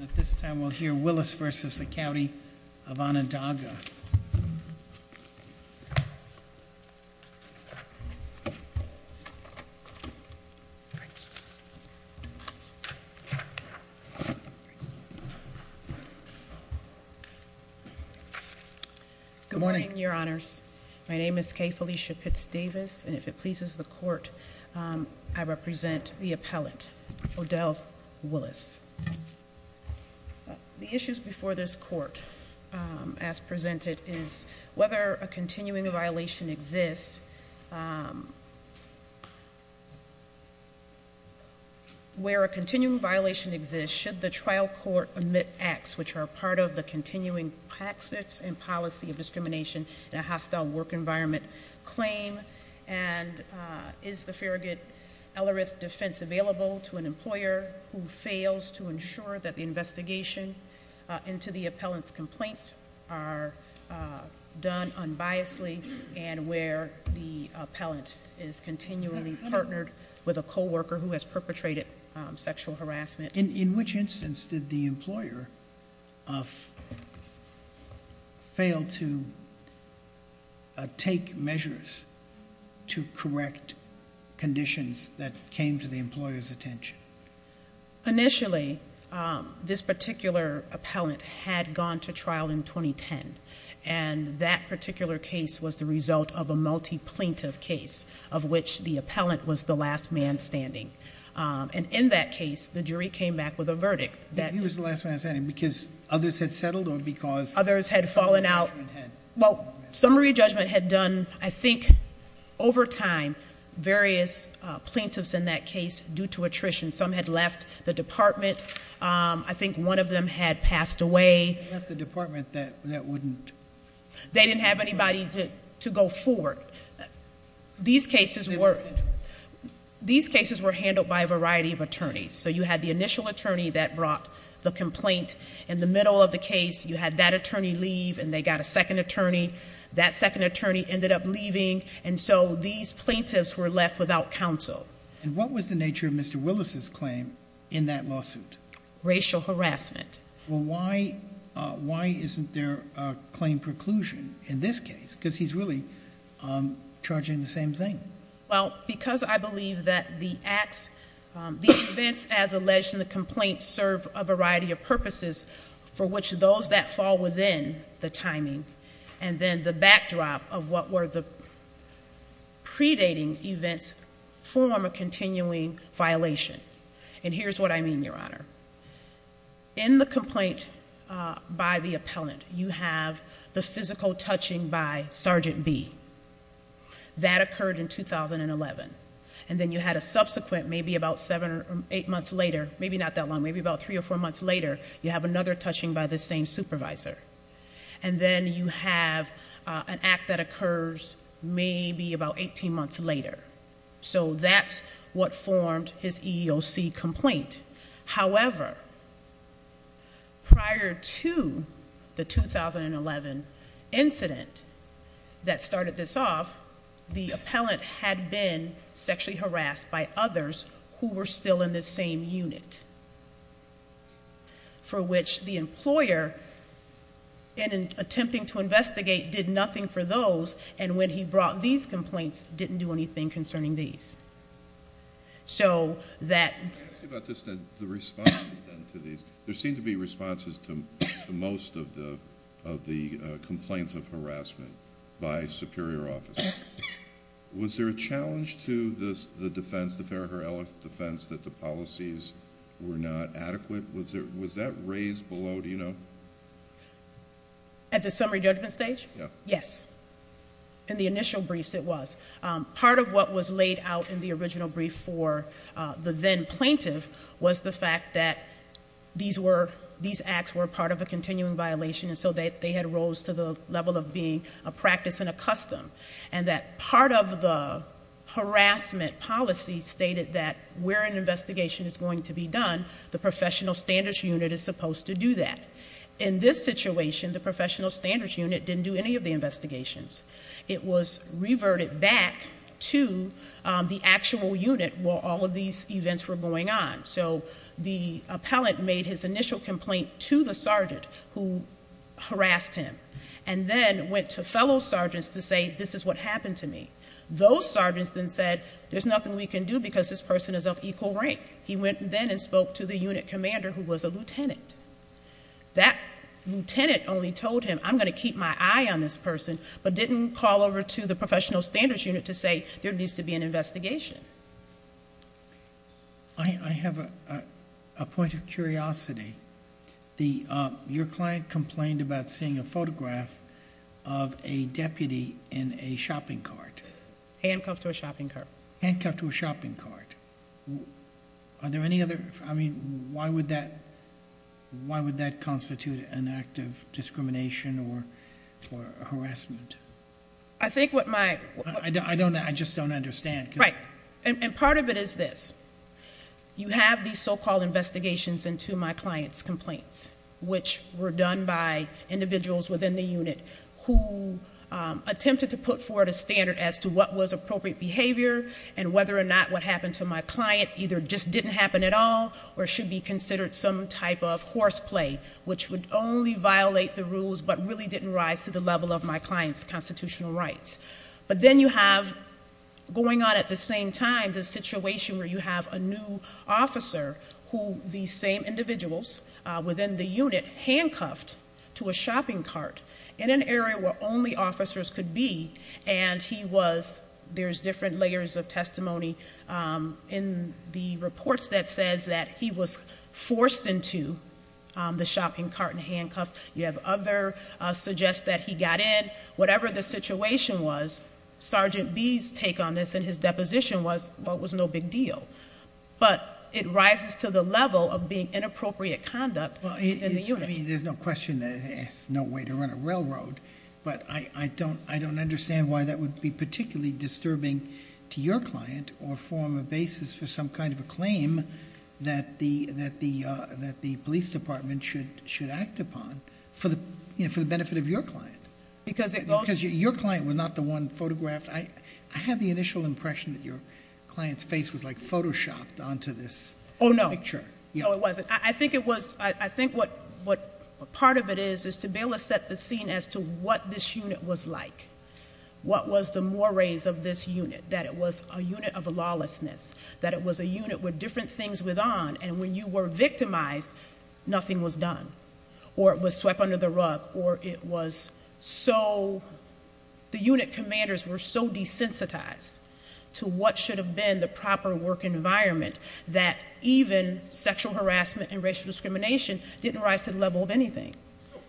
At this time, we'll hear Willis v. County of Onondaga. Good morning, Your Honors. My name is Kay Felicia Pitts Davis, and if it pleases the Court, I represent the appellate, Odell Willis. The issues before this Court, as presented, is whether a continuing violation exists. Where a continuing violation exists, should the trial court omit acts which are part of the continuing practice and policy of discrimination in a hostile work environment claim? And is the Farragut-Ellerith defense available to an employer who fails to ensure that the investigation into the appellant's complaints are done unbiasedly, and where the appellant is continually partnered with a co-worker who has perpetrated sexual harassment? In which instance did the employer fail to take measures to correct conditions that came to the employer's attention? Initially, this particular appellant had gone to trial in 2010. And that particular case was the result of a multi-plaintiff case, of which the appellant was the last man standing. And in that case, the jury came back with a verdict that- He was the last man standing because others had settled or because- Others had fallen out. Well, summary judgment had done, I think, over time, various plaintiffs in that case due to attrition. Some had left the department. I think one of them had passed away. Left the department that wouldn't- They didn't have anybody to go forward. These cases were handled by a variety of attorneys. So you had the initial attorney that brought the complaint. In the middle of the case, you had that attorney leave, and they got a second attorney. That second attorney ended up leaving. And so these plaintiffs were left without counsel. And what was the nature of Mr. Willis' claim in that lawsuit? Racial harassment. Well, why isn't there a claim preclusion in this case? Because he's really charging the same thing. Well, because I believe that the acts- These events, as alleged in the complaint, serve a variety of purposes for which those that fall within the timing and then the backdrop of what were the predating events form a continuing violation. And here's what I mean, Your Honor. In the complaint by the appellant, you have the physical touching by Sergeant B. That occurred in 2011. And then you had a subsequent, maybe about seven or eight months later, maybe not that long, maybe about three or four months later, you have another touching by the same supervisor. And then you have an act that occurs maybe about 18 months later. So that's what formed his EEOC complaint. However, prior to the 2011 incident that started this off, the appellant had been sexually harassed by others who were still in the same unit, for which the employer, in attempting to investigate, did nothing for those, and when he brought these complaints, didn't do anything concerning these. So that- Let me ask you about this then, the response then to these. There seem to be responses to most of the complaints of harassment by superior officers. Was there a challenge to the defense, the Farragher-Ellis defense, that the policies were not adequate? Was that raised below, do you know? At the summary judgment stage? Yeah. Yes. In the initial briefs, it was. Part of what was laid out in the original brief for the then plaintiff was the fact that these acts were part of a continuing violation, and so they had rose to the level of being a practice and a custom, and that part of the harassment policy stated that where an investigation is going to be done, the professional standards unit is supposed to do that. In this situation, the professional standards unit didn't do any of the investigations. It was reverted back to the actual unit where all of these events were going on. So the appellant made his initial complaint to the sergeant who harassed him and then went to fellow sergeants to say, this is what happened to me. Those sergeants then said, there's nothing we can do because this person is of equal rank. He went then and spoke to the unit commander who was a lieutenant. That lieutenant only told him, I'm going to keep my eye on this person, but didn't call over to the professional standards unit to say, there needs to be an investigation. I have a point of curiosity. Your client complained about seeing a photograph of a deputy in a shopping cart. Handcuffed to a shopping cart. Handcuffed to a shopping cart. Why would that constitute an act of discrimination or harassment? I just don't understand. Right. And part of it is this. You have these so-called investigations into my client's complaints, which were done by individuals within the unit who attempted to put forward a standard as to what was appropriate behavior and whether or not what happened to my client either just didn't happen at all or should be considered some type of horseplay, which would only violate the rules but really didn't rise to the level of my client's constitutional rights. But then you have going on at the same time the situation where you have a new officer who these same individuals within the unit handcuffed to a shopping cart in an area where only officers could be and there's different layers of testimony in the reports that says that he was forced into the shopping cart and handcuffed. You have others suggest that he got in. Whatever the situation was, Sergeant B's take on this in his deposition was, well, it was no big deal. But it rises to the level of being inappropriate conduct in the unit. I mean, there's no question there's no way to run a railroad, but I don't understand why that would be particularly disturbing to your client or form a basis for some kind of a claim that the police department should act upon for the benefit of your client. Because it goes to... Because your client was not the one photographed. I had the initial impression that your client's face was, like, Photoshopped onto this picture. Oh, no. No, it wasn't. I think it was... I think what part of it is is to be able to set the scene as to what this unit was like. What was the mores of this unit? That it was a unit of lawlessness, that it was a unit with different things with on, and when you were victimized, nothing was done, or it was swept under the rug, or it was so... The unit commanders were so desensitized to what should have been the proper work environment that even sexual harassment and racial discrimination didn't rise to the level of anything.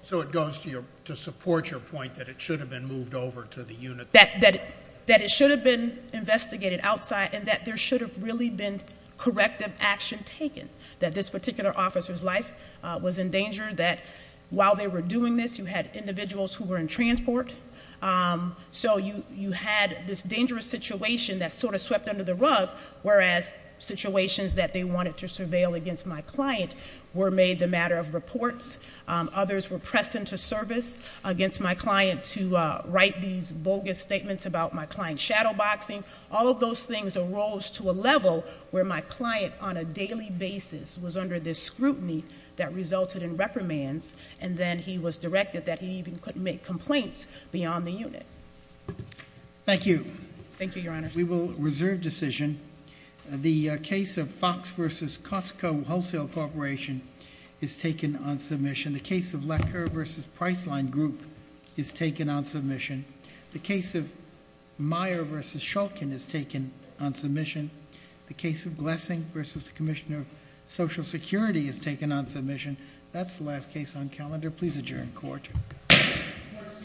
So it goes to support your point that it should have been moved over to the unit... That it should have been investigated outside and that there should have really been corrective action taken, that this particular officer's life was in danger, that while they were doing this you had individuals who were in transport, whereas situations that they wanted to surveil against my client were made the matter of reports, others were pressed into service against my client to write these bogus statements about my client shadowboxing. All of those things arose to a level where my client, on a daily basis, was under this scrutiny that resulted in reprimands, and then he was directed that he even couldn't make complaints beyond the unit. Thank you. Thank you, Your Honor. We will reserve decision. The case of Fox v. Costco Wholesale Corporation is taken on submission. The case of Lecker v. Priceline Group is taken on submission. The case of Meyer v. Shulkin is taken on submission. The case of Glessing v. the Commissioner of Social Security is taken on submission. That's the last case on calendar. Please adjourn court. Court is standing directly.